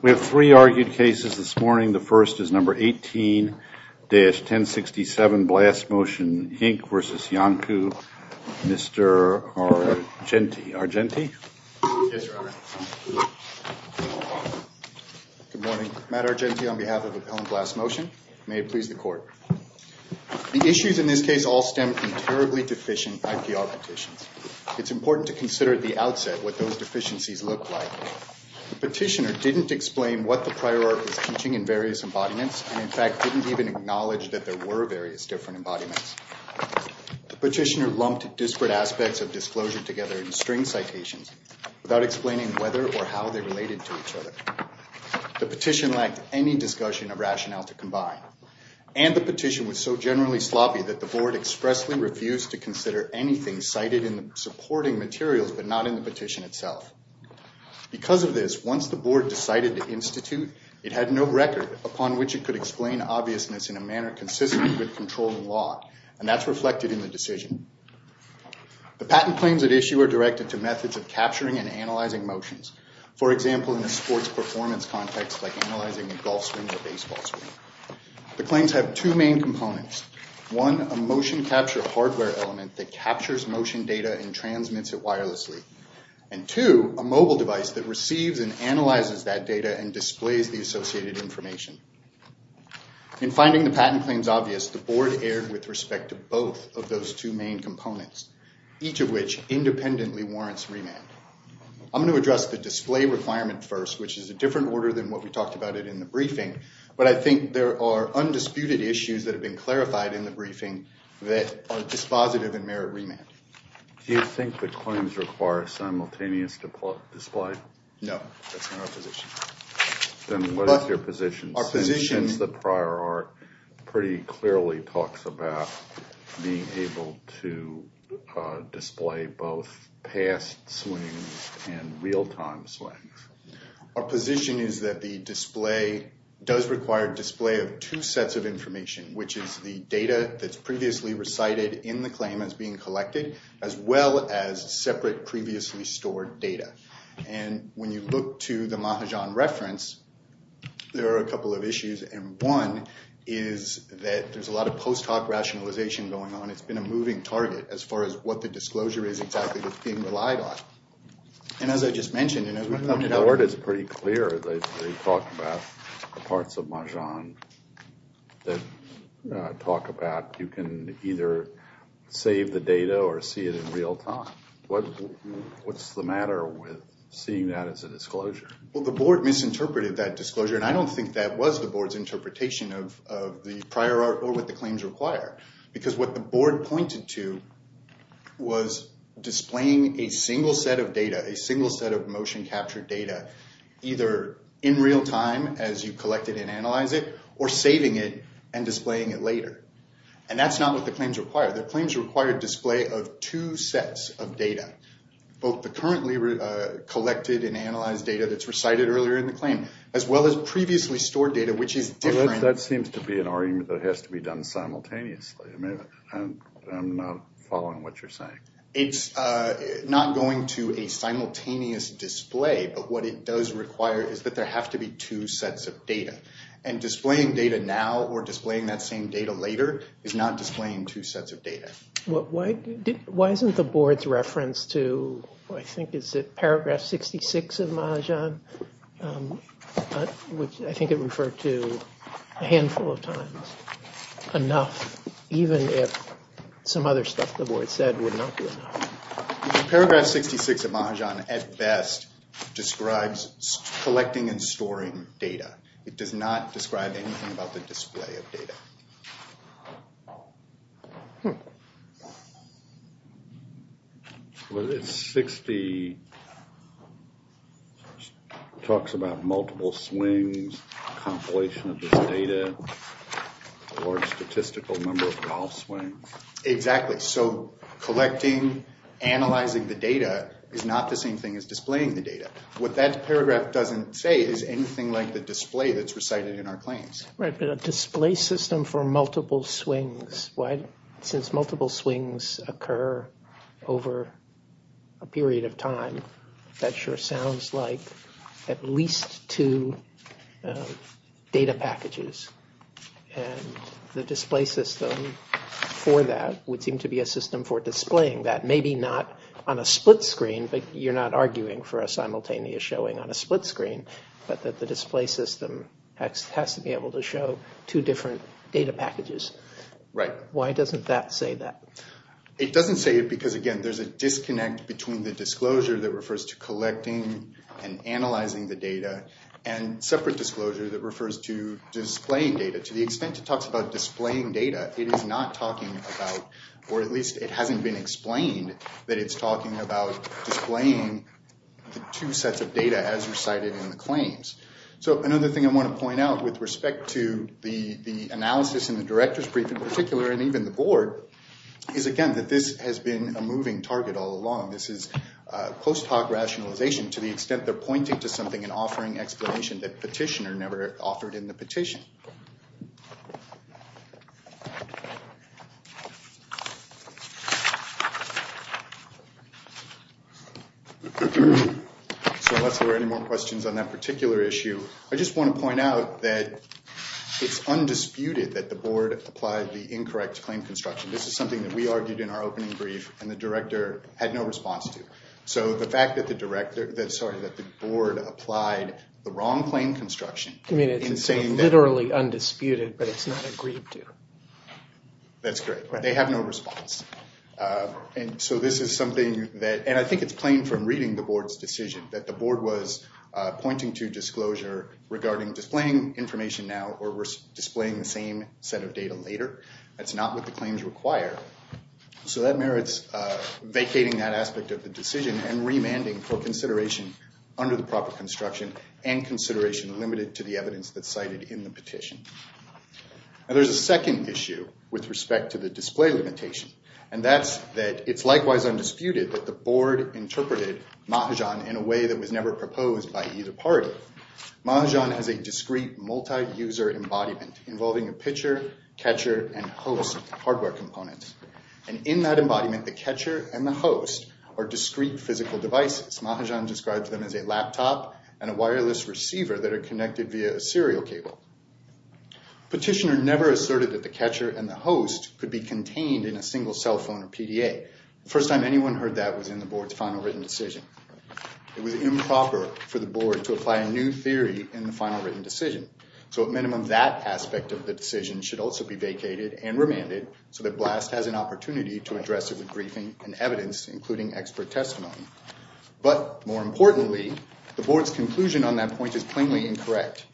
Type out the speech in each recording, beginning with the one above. We have three argued cases this morning. The first is No. 18-1067, Blast Motion, Inc. v. Iancu. Mr. Argenti. Argenti? Yes, Your Honor. Good morning. Matt Argenti on behalf of Appellant Blast Motion. May it please the Court. The issues in this case all stem from terribly deficient IPR petitions. It's important to consider at the outset what those deficiencies look like. The petitioner didn't explain what the prior art was teaching in various embodiments and, in fact, didn't even acknowledge that there were various different embodiments. The petitioner lumped disparate aspects of disclosure together in string citations without explaining whether or how they related to each other. The petition lacked any discussion of rationale to combine. And the petition was so generally sloppy that the Board expressly refused to consider anything cited in the supporting materials but not in the petition itself. Because of this, once the Board decided to institute, it had no record upon which it could explain obviousness in a manner consistent with controlling law, and that's reflected in the decision. The patent claims at issue are directed to methods of capturing and analyzing motions. For example, in a sports performance context like analyzing a golf swing or baseball swing. The claims have two main components. One, a motion capture hardware element that captures motion data and transmits it wirelessly. And two, a mobile device that receives and analyzes that data and displays the associated information. In finding the patent claims obvious, the Board erred with respect to both of those two main components, each of which independently warrants remand. I'm going to address the display requirement first, which is a different order than what we talked about in the briefing. But I think there are undisputed issues that have been clarified in the briefing that are dispositive and merit remand. Do you think the claims require simultaneous display? No, that's not our position. Then what is your position? Our position is that prior art pretty clearly talks about being able to display both past swings and real-time swings. Our position is that the display does require display of two sets of information, which is the data that's previously recited in the claim as being collected, as well as separate previously stored data. And when you look to the Mahajan reference, there are a couple of issues. And one is that there's a lot of post-hoc rationalization going on. It's been a moving target as far as what the disclosure is exactly that's being relied on. And as I just mentioned, and as we pointed out— The Board is pretty clear that they talk about the parts of Mahajan that talk about you can either save the data or see it in real time. What's the matter with seeing that as a disclosure? Well, the Board misinterpreted that disclosure, and I don't think that was the Board's interpretation of the prior art or what the claims require. Because what the Board pointed to was displaying a single set of data, a single set of motion capture data, either in real time as you collect it and analyze it, or saving it and displaying it later. And that's not what the claims require. The claims require a display of two sets of data, both the currently collected and analyzed data that's recited earlier in the claim, as well as previously stored data, which is different— That seems to be an argument that has to be done simultaneously. I'm not following what you're saying. It's not going to a simultaneous display. But what it does require is that there have to be two sets of data. And displaying data now or displaying that same data later is not displaying two sets of data. Why isn't the Board's reference to, I think, is it paragraph 66 of Mahajan, which I think it referred to a handful of times, enough even if some other stuff the Board said would not be enough? Paragraph 66 of Mahajan, at best, describes collecting and storing data. It does not describe anything about the display of data. Well, it's 60—it talks about multiple swings, compilation of the data, or statistical number of golf swings. Exactly. So collecting, analyzing the data is not the same thing as displaying the data. What that paragraph doesn't say is anything like the display that's recited in our claims. Right, but a display system for multiple swings. Since multiple swings occur over a period of time, that sure sounds like at least two data packages. And the display system for that would seem to be a system for displaying that. Maybe not on a split screen, but you're not arguing for a simultaneous showing on a split screen, but that the display system has to be able to show two different data packages. Right. Why doesn't that say that? It doesn't say it because, again, there's a disconnect between the disclosure that refers to collecting and analyzing the data and separate disclosure that refers to displaying data. To the extent it talks about displaying data, it is not talking about, or at least it hasn't been explained, that it's talking about displaying the two sets of data as recited in the claims. So another thing I want to point out with respect to the analysis and the director's brief in particular, and even the board, is, again, that this has been a moving target all along. This is post hoc rationalization to the extent they're pointing to something and offering explanation that petitioner never offered in the petition. So unless there are any more questions on that particular issue, I just want to point out that it's undisputed that the board applied the incorrect claim construction. This is something that we argued in our opening brief and the director had no response to. So the fact that the board applied the wrong claim construction. I mean, it's literally undisputed, but it's not agreed to. That's correct. They have no response. And so this is something that, and I think it's plain from reading the board's decision, that the board was pointing to disclosure regarding displaying information now or displaying the same set of data later. That's not what the claims require. So that merits vacating that aspect of the decision and remanding for consideration under the proper construction and consideration limited to the evidence that's cited in the petition. Now there's a second issue with respect to the display limitation, and that's that it's likewise undisputed that the board interpreted Mahajan in a way that was never proposed by either party. Mahajan has a discrete multi-user embodiment involving a pitcher, catcher, and host hardware components. And in that embodiment, the catcher and the host are discrete physical devices. Mahajan describes them as a laptop and a wireless receiver that are connected via a serial cable. Petitioner never asserted that the catcher and the host could be contained in a single cell phone or PDA. The first time anyone heard that was in the board's final written decision. It was improper for the board to apply a new theory in the final written decision. So at minimum, that aspect of the decision should also be vacated and remanded, so that BLAST has an opportunity to address it with briefing and evidence, including expert testimony. But more importantly, the board's conclusion on that point is plainly incorrect,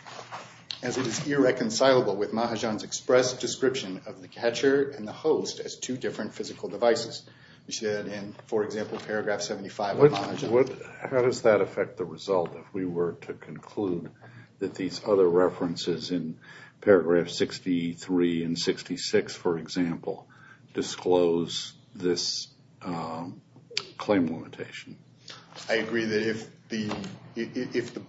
as it is irreconcilable with Mahajan's express description of the catcher and the host as two different physical devices. We see that in, for example, paragraph 75 of Mahajan. How does that affect the result if we were to conclude that these other references in paragraph 63 and 66, for example, disclose this claim limitation? I agree that if the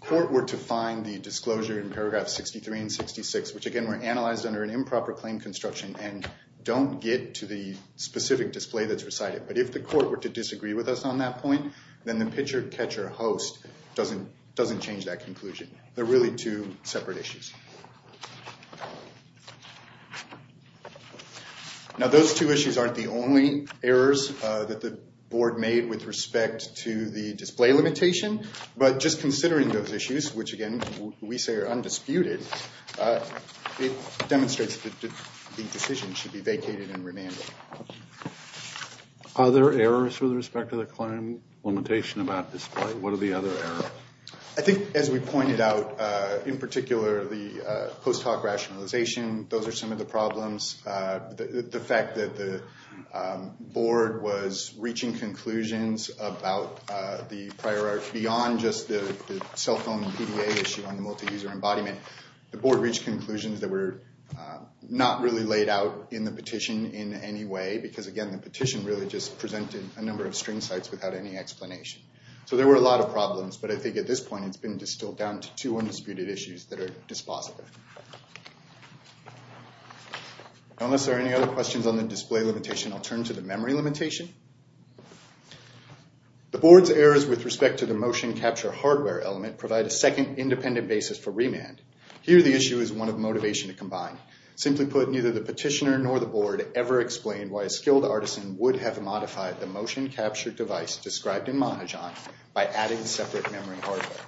court were to find the disclosure in paragraph 63 and 66, which again were analyzed under an improper claim construction and don't get to the specific display that's recited, but if the court were to disagree with us on that point, then the pitcher, catcher, host doesn't change that conclusion. They're really two separate issues. Now, those two issues aren't the only errors that the board made with respect to the display limitation, but just considering those issues, which again we say are undisputed, it demonstrates that the decision should be vacated and remanded. Are there errors with respect to the claim limitation about display? What are the other errors? I think, as we pointed out, in particular, the post hoc rationalization, those are some of the problems. The fact that the board was reaching conclusions about the priority beyond just the cell phone and PDA issue on the multi-user embodiment, the board reached conclusions that were not really laid out in the petition in any way because, again, the petition really just presented a number of string sites without any explanation. So there were a lot of problems, but I think at this point it's been distilled down to two undisputed issues that are dispositive. Unless there are any other questions on the display limitation, I'll turn to the memory limitation. The board's errors with respect to the motion capture hardware element provide a second independent basis for remand. Here, the issue is one of motivation to combine. Simply put, neither the petitioner nor the board ever explained why a skilled artisan would have modified the motion capture device described in Mahajan by adding separate memory hardware.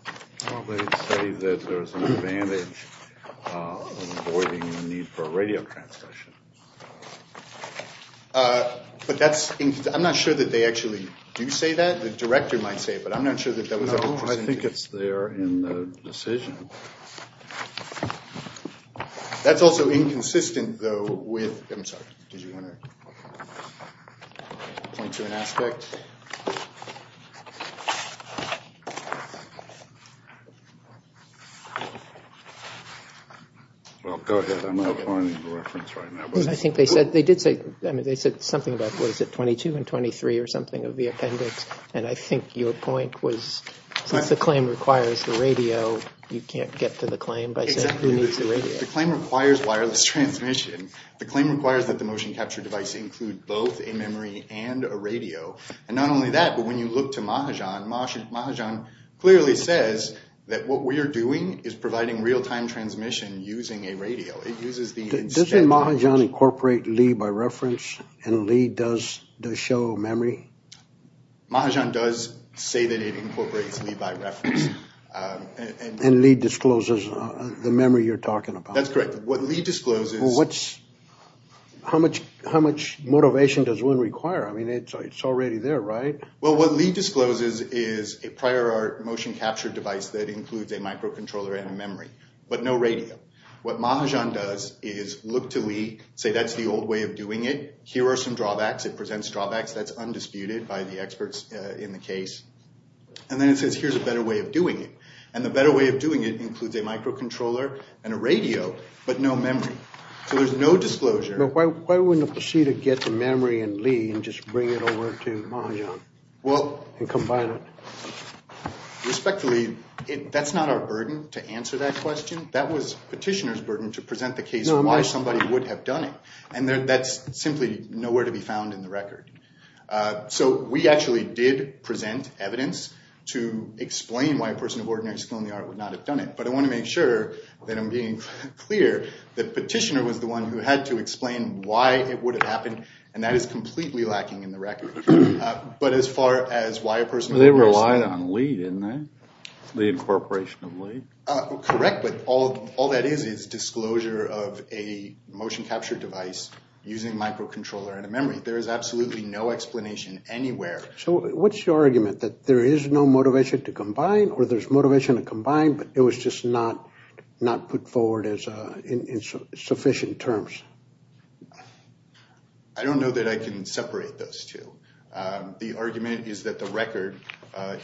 Well, they say that there's an advantage of avoiding the need for radio transmission. But that's – I'm not sure that they actually do say that. The director might say it, but I'm not sure that that was ever presented. No, I think it's there in the decision. That's also inconsistent, though, with – I'm sorry. Did you want to point to an aspect? Well, go ahead. I'm not finding the reference right now. I think they said – they did say – I mean, they said something about, what is it, 22 and 23 or something of the appendix. And I think your point was, since the claim requires the radio, you can't get to the claim by saying who needs the radio. Exactly. The claim requires wireless transmission. The claim requires that the motion capture device include both a memory and a radio. And not only that, but when you look to Mahajan, Mahajan clearly says that what we are doing is providing real-time transmission using a radio. Doesn't Mahajan incorporate Li by reference, and Li does show memory? Mahajan does say that it incorporates Li by reference. And Li discloses the memory you're talking about. That's correct. What Li discloses – Well, what's – how much motivation does one require? I mean, it's already there, right? Well, what Li discloses is a prior motion capture device that includes a microcontroller and a memory, but no radio. What Mahajan does is look to Li, say, that's the old way of doing it. Here are some drawbacks. It presents drawbacks. That's undisputed by the experts in the case. And then it says, here's a better way of doing it. And the better way of doing it includes a microcontroller and a radio, but no memory. So there's no disclosure. But why wouldn't it proceed to get the memory in Li and just bring it over to Mahajan and combine it? Respectfully, that's not our burden to answer that question. That was Petitioner's burden to present the case why somebody would have done it. And that's simply nowhere to be found in the record. So we actually did present evidence to explain why a person of ordinary skill in the art would not have done it. But I want to make sure that I'm being clear that Petitioner was the one who had to explain why it would have happened, and that is completely lacking in the record. But as far as why a person – They relied on Li, didn't they, the incorporation of Li? Correct, but all that is is disclosure of a motion capture device using microcontroller and a memory. There is absolutely no explanation anywhere. So what's your argument, that there is no motivation to combine or there's motivation to combine, but it was just not put forward in sufficient terms? I don't know that I can separate those two. The argument is that the record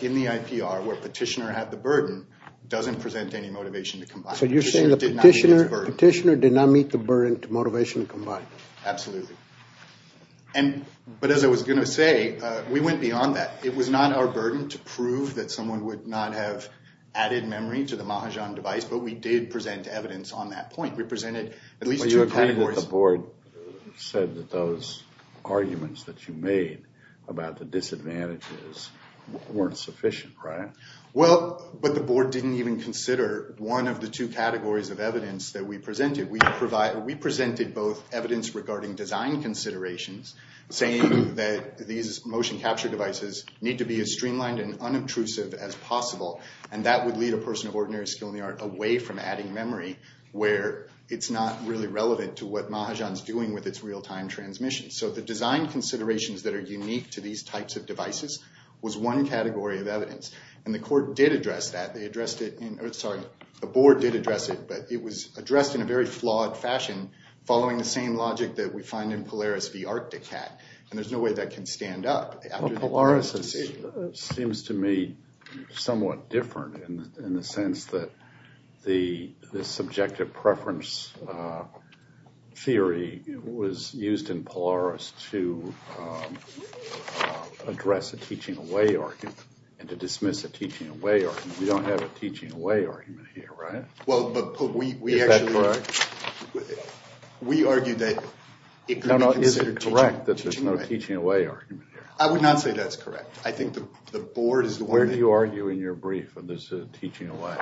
in the IPR where Petitioner had the burden doesn't present any motivation to combine. So you're saying that Petitioner did not meet the burden to motivation to combine? Absolutely. But as I was going to say, we went beyond that. It was not our burden to prove that someone would not have added memory to the Mahajan device, but we did present evidence on that point. But you agreed that the board said that those arguments that you made about the disadvantages weren't sufficient, right? Well, but the board didn't even consider one of the two categories of evidence that we presented. We presented both evidence regarding design considerations, saying that these motion capture devices need to be as streamlined and unobtrusive as possible, and that would lead a person of ordinary skill in the art away from adding memory where it's not really relevant to what Mahajan is doing with its real-time transmission. So the design considerations that are unique to these types of devices was one category of evidence, and the board did address it, but it was addressed in a very flawed fashion, following the same logic that we find in Polaris v. Arctic Cat, and there's no way that can stand up. Well, Polaris seems to me somewhat different in the sense that the subjective preference theory was used in Polaris to address a teaching away argument and to dismiss a teaching away argument. We don't have a teaching away argument here, right? Well, but we actually... Is that correct? We argued that it could be considered teaching away. I would not say that's correct. I think the board is... Where do you argue in your brief on this teaching away?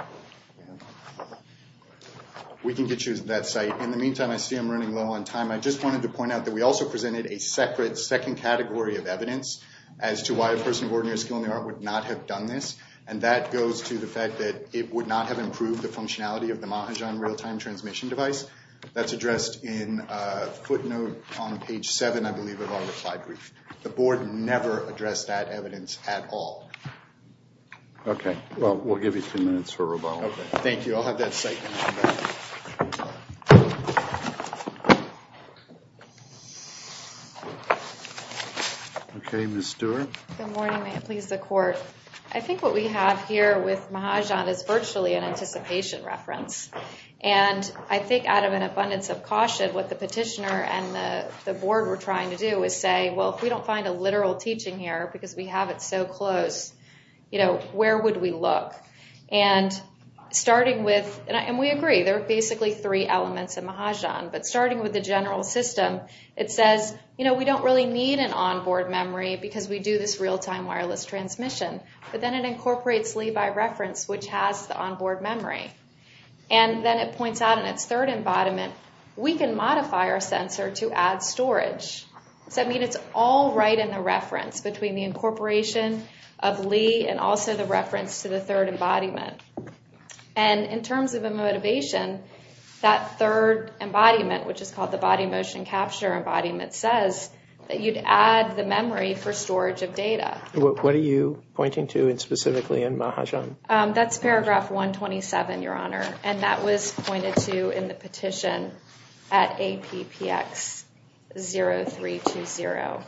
We can get you to that site. In the meantime, I see I'm running low on time. I just wanted to point out that we also presented a separate second category of evidence as to why a person of ordinary skill in the art would not have done this, and that goes to the fact that it would not have improved the functionality of the Mahajan real-time transmission device. That's addressed in a footnote on page seven, I believe, of our reply brief. The board never addressed that evidence at all. Okay. Well, we'll give you two minutes for rebuttal. Okay. Thank you. I'll have that site in a moment. Okay, Ms. Stewart. Good morning. May it please the court. I think what we have here with Mahajan is virtually an anticipation reference, and I think out of an abundance of caution, what the petitioner and the board were trying to do is say, well, if we don't find a literal teaching here because we have it so close, where would we look? And starting with... And we agree. There are basically three elements in Mahajan, but starting with the general system, it says we don't really need an onboard memory because we do this real-time wireless transmission, but then it incorporates Levi reference, which has the onboard memory. And then it points out in its third embodiment, we can modify our sensor to add storage. Does that mean it's all right in the reference between the incorporation of Lee and also the reference to the third embodiment? And in terms of a motivation, that third embodiment, which is called the body motion capture embodiment, says that you'd add the memory for storage of data. What are you pointing to specifically in Mahajan? That's paragraph 127, Your Honor, and that was pointed to in the petition at APPX0320.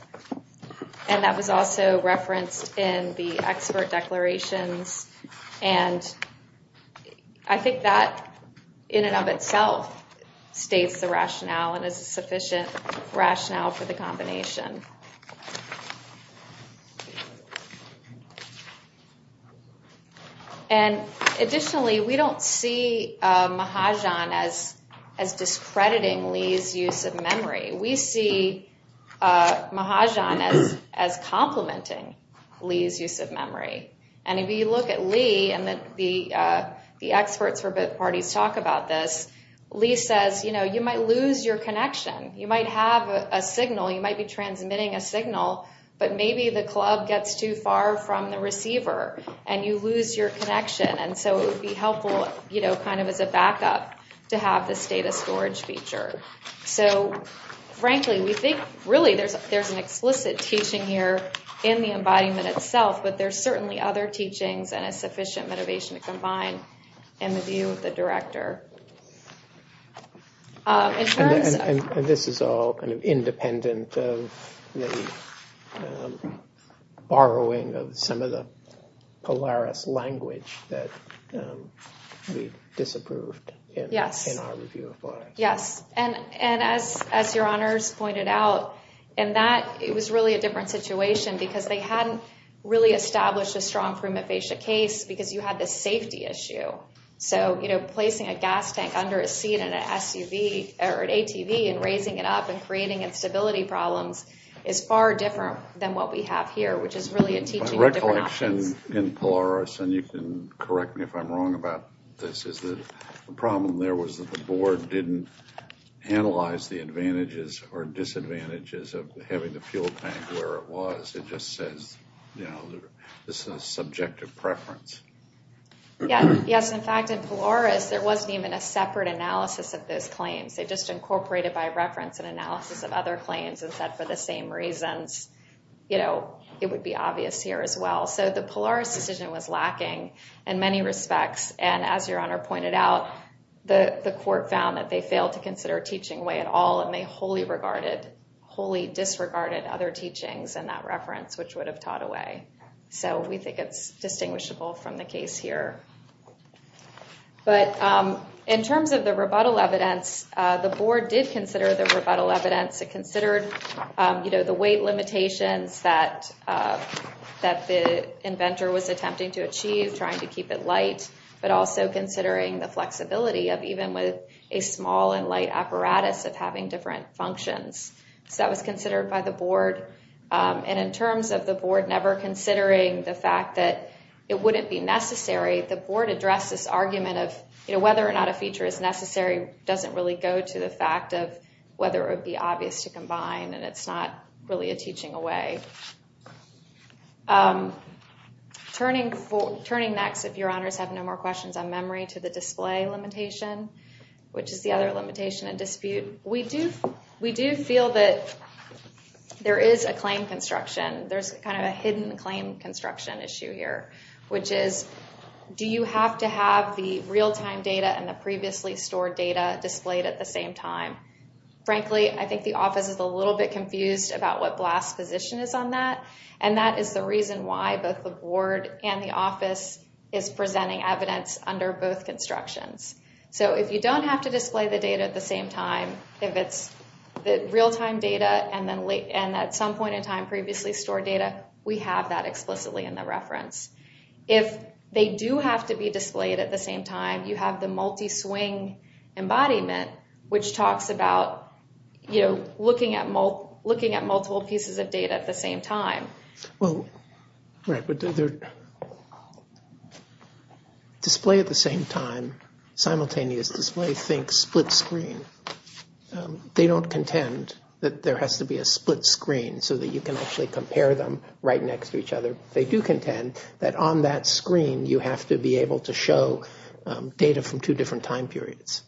And that was also referenced in the expert declarations, and I think that in and of itself states the rationale and is a sufficient rationale for the combination. And additionally, we don't see Mahajan as discrediting Lee's use of memory. We see Mahajan as complementing Lee's use of memory. And if you look at Lee and the experts for both parties talk about this, Lee says, you know, you might lose your connection. You might have a signal. You might be transmitting a signal, but maybe the club gets too far from the receiver and you lose your connection. And so it would be helpful, you know, kind of as a backup to have this data storage feature. So, frankly, we think really there's an explicit teaching here in the embodiment itself, but there's certainly other teachings and a sufficient motivation to combine in the view of the director. And this is all independent of the borrowing of some of the Polaris language that we disapproved. Yes. In our review of Polaris. Yes. And as your honors pointed out, in that it was really a different situation because they hadn't really established a strong prima facie case because you had this safety issue. So, you know, placing a gas tank under a seat in an SUV or an ATV and raising it up and creating instability problems is far different than what we have here, which is really a teaching of different options. My recollection in Polaris, and you can correct me if I'm wrong about this, is the problem there was that the board didn't analyze the advantages or disadvantages of having the fuel tank where it was. It just says, you know, this is a subjective preference. Yes. Yes. In fact, in Polaris, there wasn't even a separate analysis of those claims. They just incorporated by reference and analysis of other claims and said for the same reasons, you know, it would be obvious here as well. So the Polaris decision was lacking in many respects. And as your honor pointed out, the court found that they failed to consider teaching way at all. And they wholly regarded, wholly disregarded other teachings and that reference, which would have taught away. So we think it's distinguishable from the case here. But in terms of the rebuttal evidence, the board did consider the rebuttal evidence. It considered, you know, the weight limitations that the inventor was attempting to achieve, trying to keep it light, but also considering the flexibility of even with a small and light apparatus of having different functions. So that was considered by the board. And in terms of the board never considering the fact that it wouldn't be necessary, the board addressed this argument of, you know, whether or not a feature is necessary, doesn't really go to the fact of whether it would be obvious to combine and it's not really a teaching away. Turning next, if your honors have no more questions on memory to the display limitation, which is the other limitation and dispute. We do feel that there is a claim construction. There's kind of a hidden claim construction issue here, which is do you have to have the real-time data and the previously stored data displayed at the same time? Frankly, I think the office is a little bit confused about what blast's position is on that. And that is the reason why both the board and the office is presenting evidence under both constructions. So if you don't have to display the data at the same time, if it's the real-time data and at some point in time previously stored data, we have that explicitly in the reference. If they do have to be displayed at the same time, you have the multi-swing embodiment, which talks about looking at multiple pieces of data at the same time. Right, but display at the same time, simultaneous display, think split screen. They don't contend that there has to be a split screen so that you can actually compare them right next to each other. They do contend that on that screen, you have to be able to show data from two different time periods.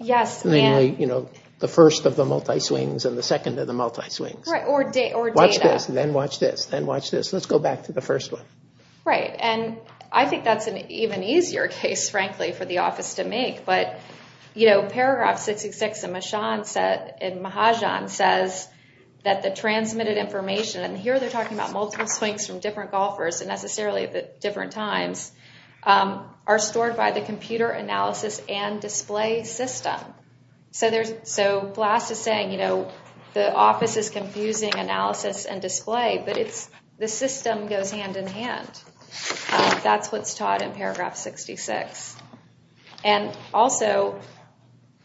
Yes. Namely, the first of the multi-swings and the second of the multi-swings. Right, or data. Watch this, then watch this, then watch this. Let's go back to the first one. Right, and I think that's an even easier case, frankly, for the office to make. But paragraph 666 in Mahajan says that the transmitted information, and here they're talking about multiple swings from different golfers and necessarily at different times, are stored by the computer analysis and display system. So BLAST is saying, you know, the office is confusing analysis and display, but the system goes hand in hand. That's what's taught in paragraph 66. And also,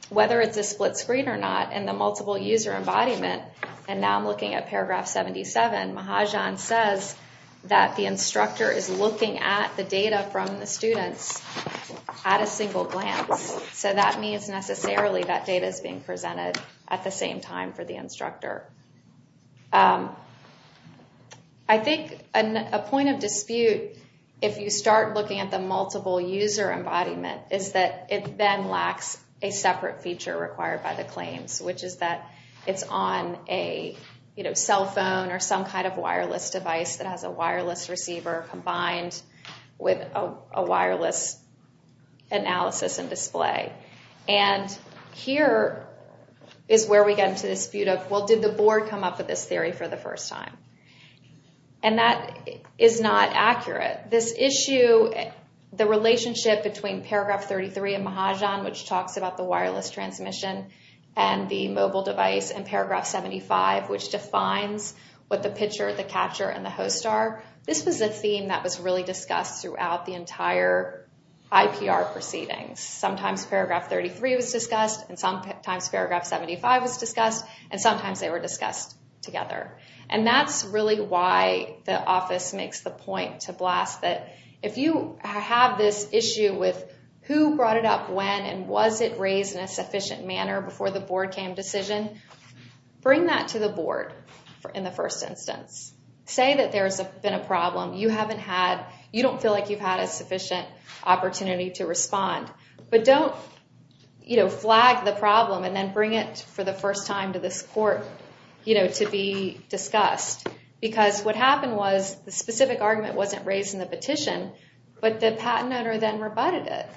whether it's a split screen or not in the multiple user embodiment, and now I'm looking at paragraph 77, Mahajan says that the instructor is looking at the data from the students at a single glance. So that means necessarily that data is being presented at the same time for the instructor. I think a point of dispute, if you start looking at the multiple user embodiment, is that it then lacks a separate feature required by the claims, which is that it's on a, you know, cell phone or some kind of wireless device that has a wireless receiver combined with a wireless analysis and display. And here is where we get into the dispute of, well, did the board come up with this theory for the first time? And that is not accurate. This issue, the relationship between paragraph 33 in Mahajan, which talks about the wireless transmission and the mobile device, and paragraph 75, which defines what the pitcher, the catcher, and the host are, this was a theme that was really discussed throughout the entire IPR proceedings. Sometimes paragraph 33 was discussed, and sometimes paragraph 75 was discussed, and sometimes they were discussed together. And that's really why the office makes the point to BLAST that if you have this issue with who brought it up when and was it raised in a sufficient manner before the board came to decision, bring that to the board in the first instance. Say that there's been a problem. You haven't had, you don't feel like you've had a sufficient opportunity to respond, but don't, you know, flag the problem and then bring it for the first time to this court, you know, to be discussed. Because what happened was the specific argument wasn't raised in the petition, but the patent owner then rebutted it.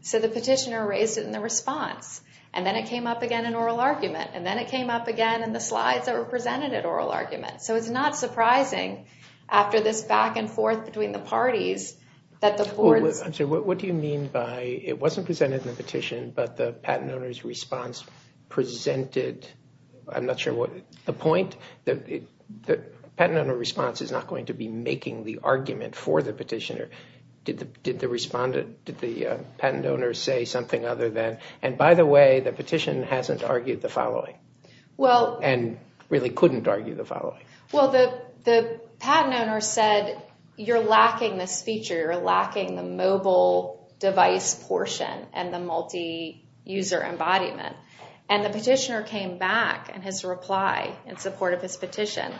So the petitioner raised it in the response, and then it came up again in oral argument, and then it came up again in the slides that were presented at oral argument. So it's not surprising after this back and forth between the parties that the board's. I'm sorry, what do you mean by it wasn't presented in the petition, but the patent owner's response presented, I'm not sure what the point, the patent owner response is not going to be making the argument for the petitioner. Did the respondent, did the patent owner say something other than, and by the way, the petition hasn't argued the following. And really couldn't argue the following. Well, the patent owner said, you're lacking this feature, you're lacking the mobile device portion and the multi-user embodiment. And the petitioner came back in his reply in support of his petition,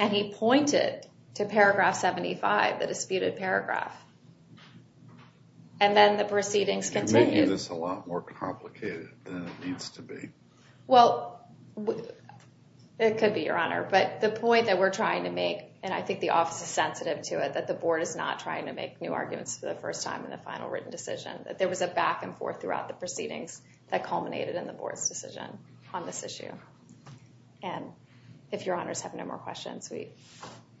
and he pointed to paragraph 75, the disputed paragraph. And then the proceedings continued. It's a lot more complicated than it needs to be. Well, it could be, Your Honor. But the point that we're trying to make, and I think the office is sensitive to it, that the board is not trying to make new arguments for the first time in the final written decision, that there was a back and forth throughout the proceedings that culminated in the board's decision on this issue. And if Your Honors have no more questions, we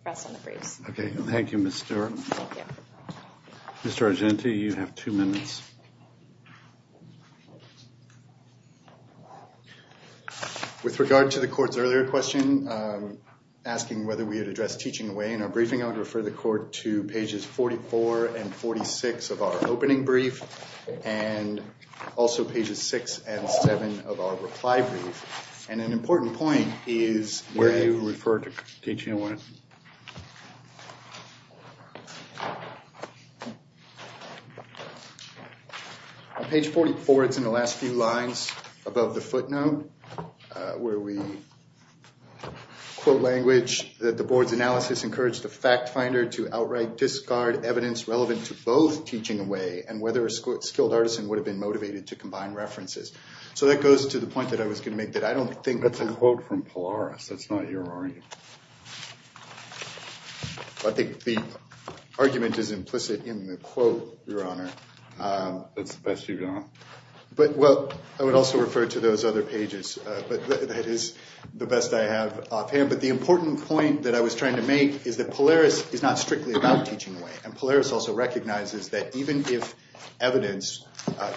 press on the briefs. Okay. Thank you, Ms. Stewart. Mr. Argenti, you have two minutes. With regard to the court's earlier question, asking whether we had addressed teaching away in our briefing, I would refer the court to pages 44 and 46 of our opening brief, and also pages six and seven of our reply brief. And an important point is where you refer to teaching away. Page 44, it's in the last few lines above the footnote, where we quote language that the board's analysis encouraged the fact finder to outright discard evidence relevant to both teaching away and whether a skilled artisan would have been motivated to combine references. So that goes to the point that I was going to make, that I don't think that's a quote from Polaris. That's not your argument. I think the argument is implicit in the quote, Your Honor. That's the best you've done. But, well, I would also refer to those other pages. But that is the best I have up here. But the important point that I was trying to make is that Polaris is not strictly about teaching away. And Polaris also recognizes that even if evidence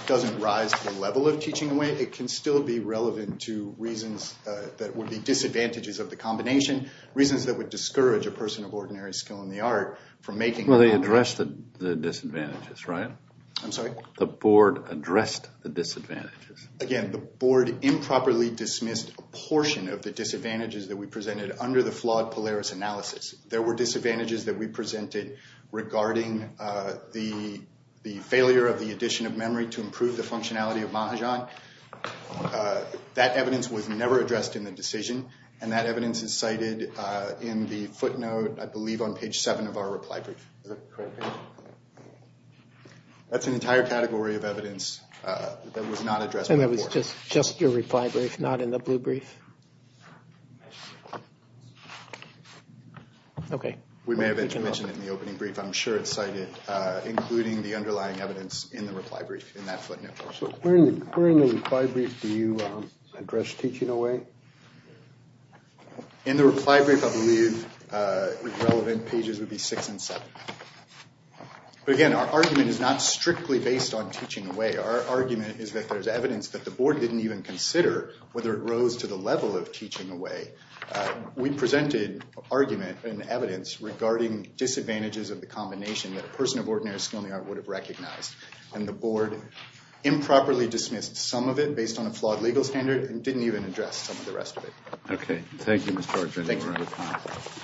doesn't rise to the level of teaching away, it can still be relevant to reasons that would be disadvantages of the combination. Reasons that would discourage a person of ordinary skill in the art from making them. Well, they addressed the disadvantages, right? I'm sorry? The board addressed the disadvantages. Again, the board improperly dismissed a portion of the disadvantages that we presented under the flawed Polaris analysis. There were disadvantages that we presented regarding the failure of the addition of memory to improve the functionality of Mahajan. That evidence was never addressed in the decision. And that evidence is cited in the footnote, I believe on page seven of our reply brief. Is that correct? That's an entire category of evidence that was not addressed. And that was just your reply brief, not in the blue brief. Okay. We may have mentioned it in the opening brief. I'm sure it's cited, including the underlying evidence in the reply brief, in that footnote. So where in the reply brief do you address teaching away? In the reply brief, I believe the relevant pages would be six and seven. But again, our argument is not strictly based on teaching away. Our argument is that there's evidence that the board didn't even consider whether it rose to the level of teaching away. We presented argument and evidence regarding disadvantages of the combination that a person of ordinary skill in the art would have recognized. And the board improperly dismissed some of it based on a flawed legal standard and didn't even address some of the rest of it. Okay. Thank you. Mr.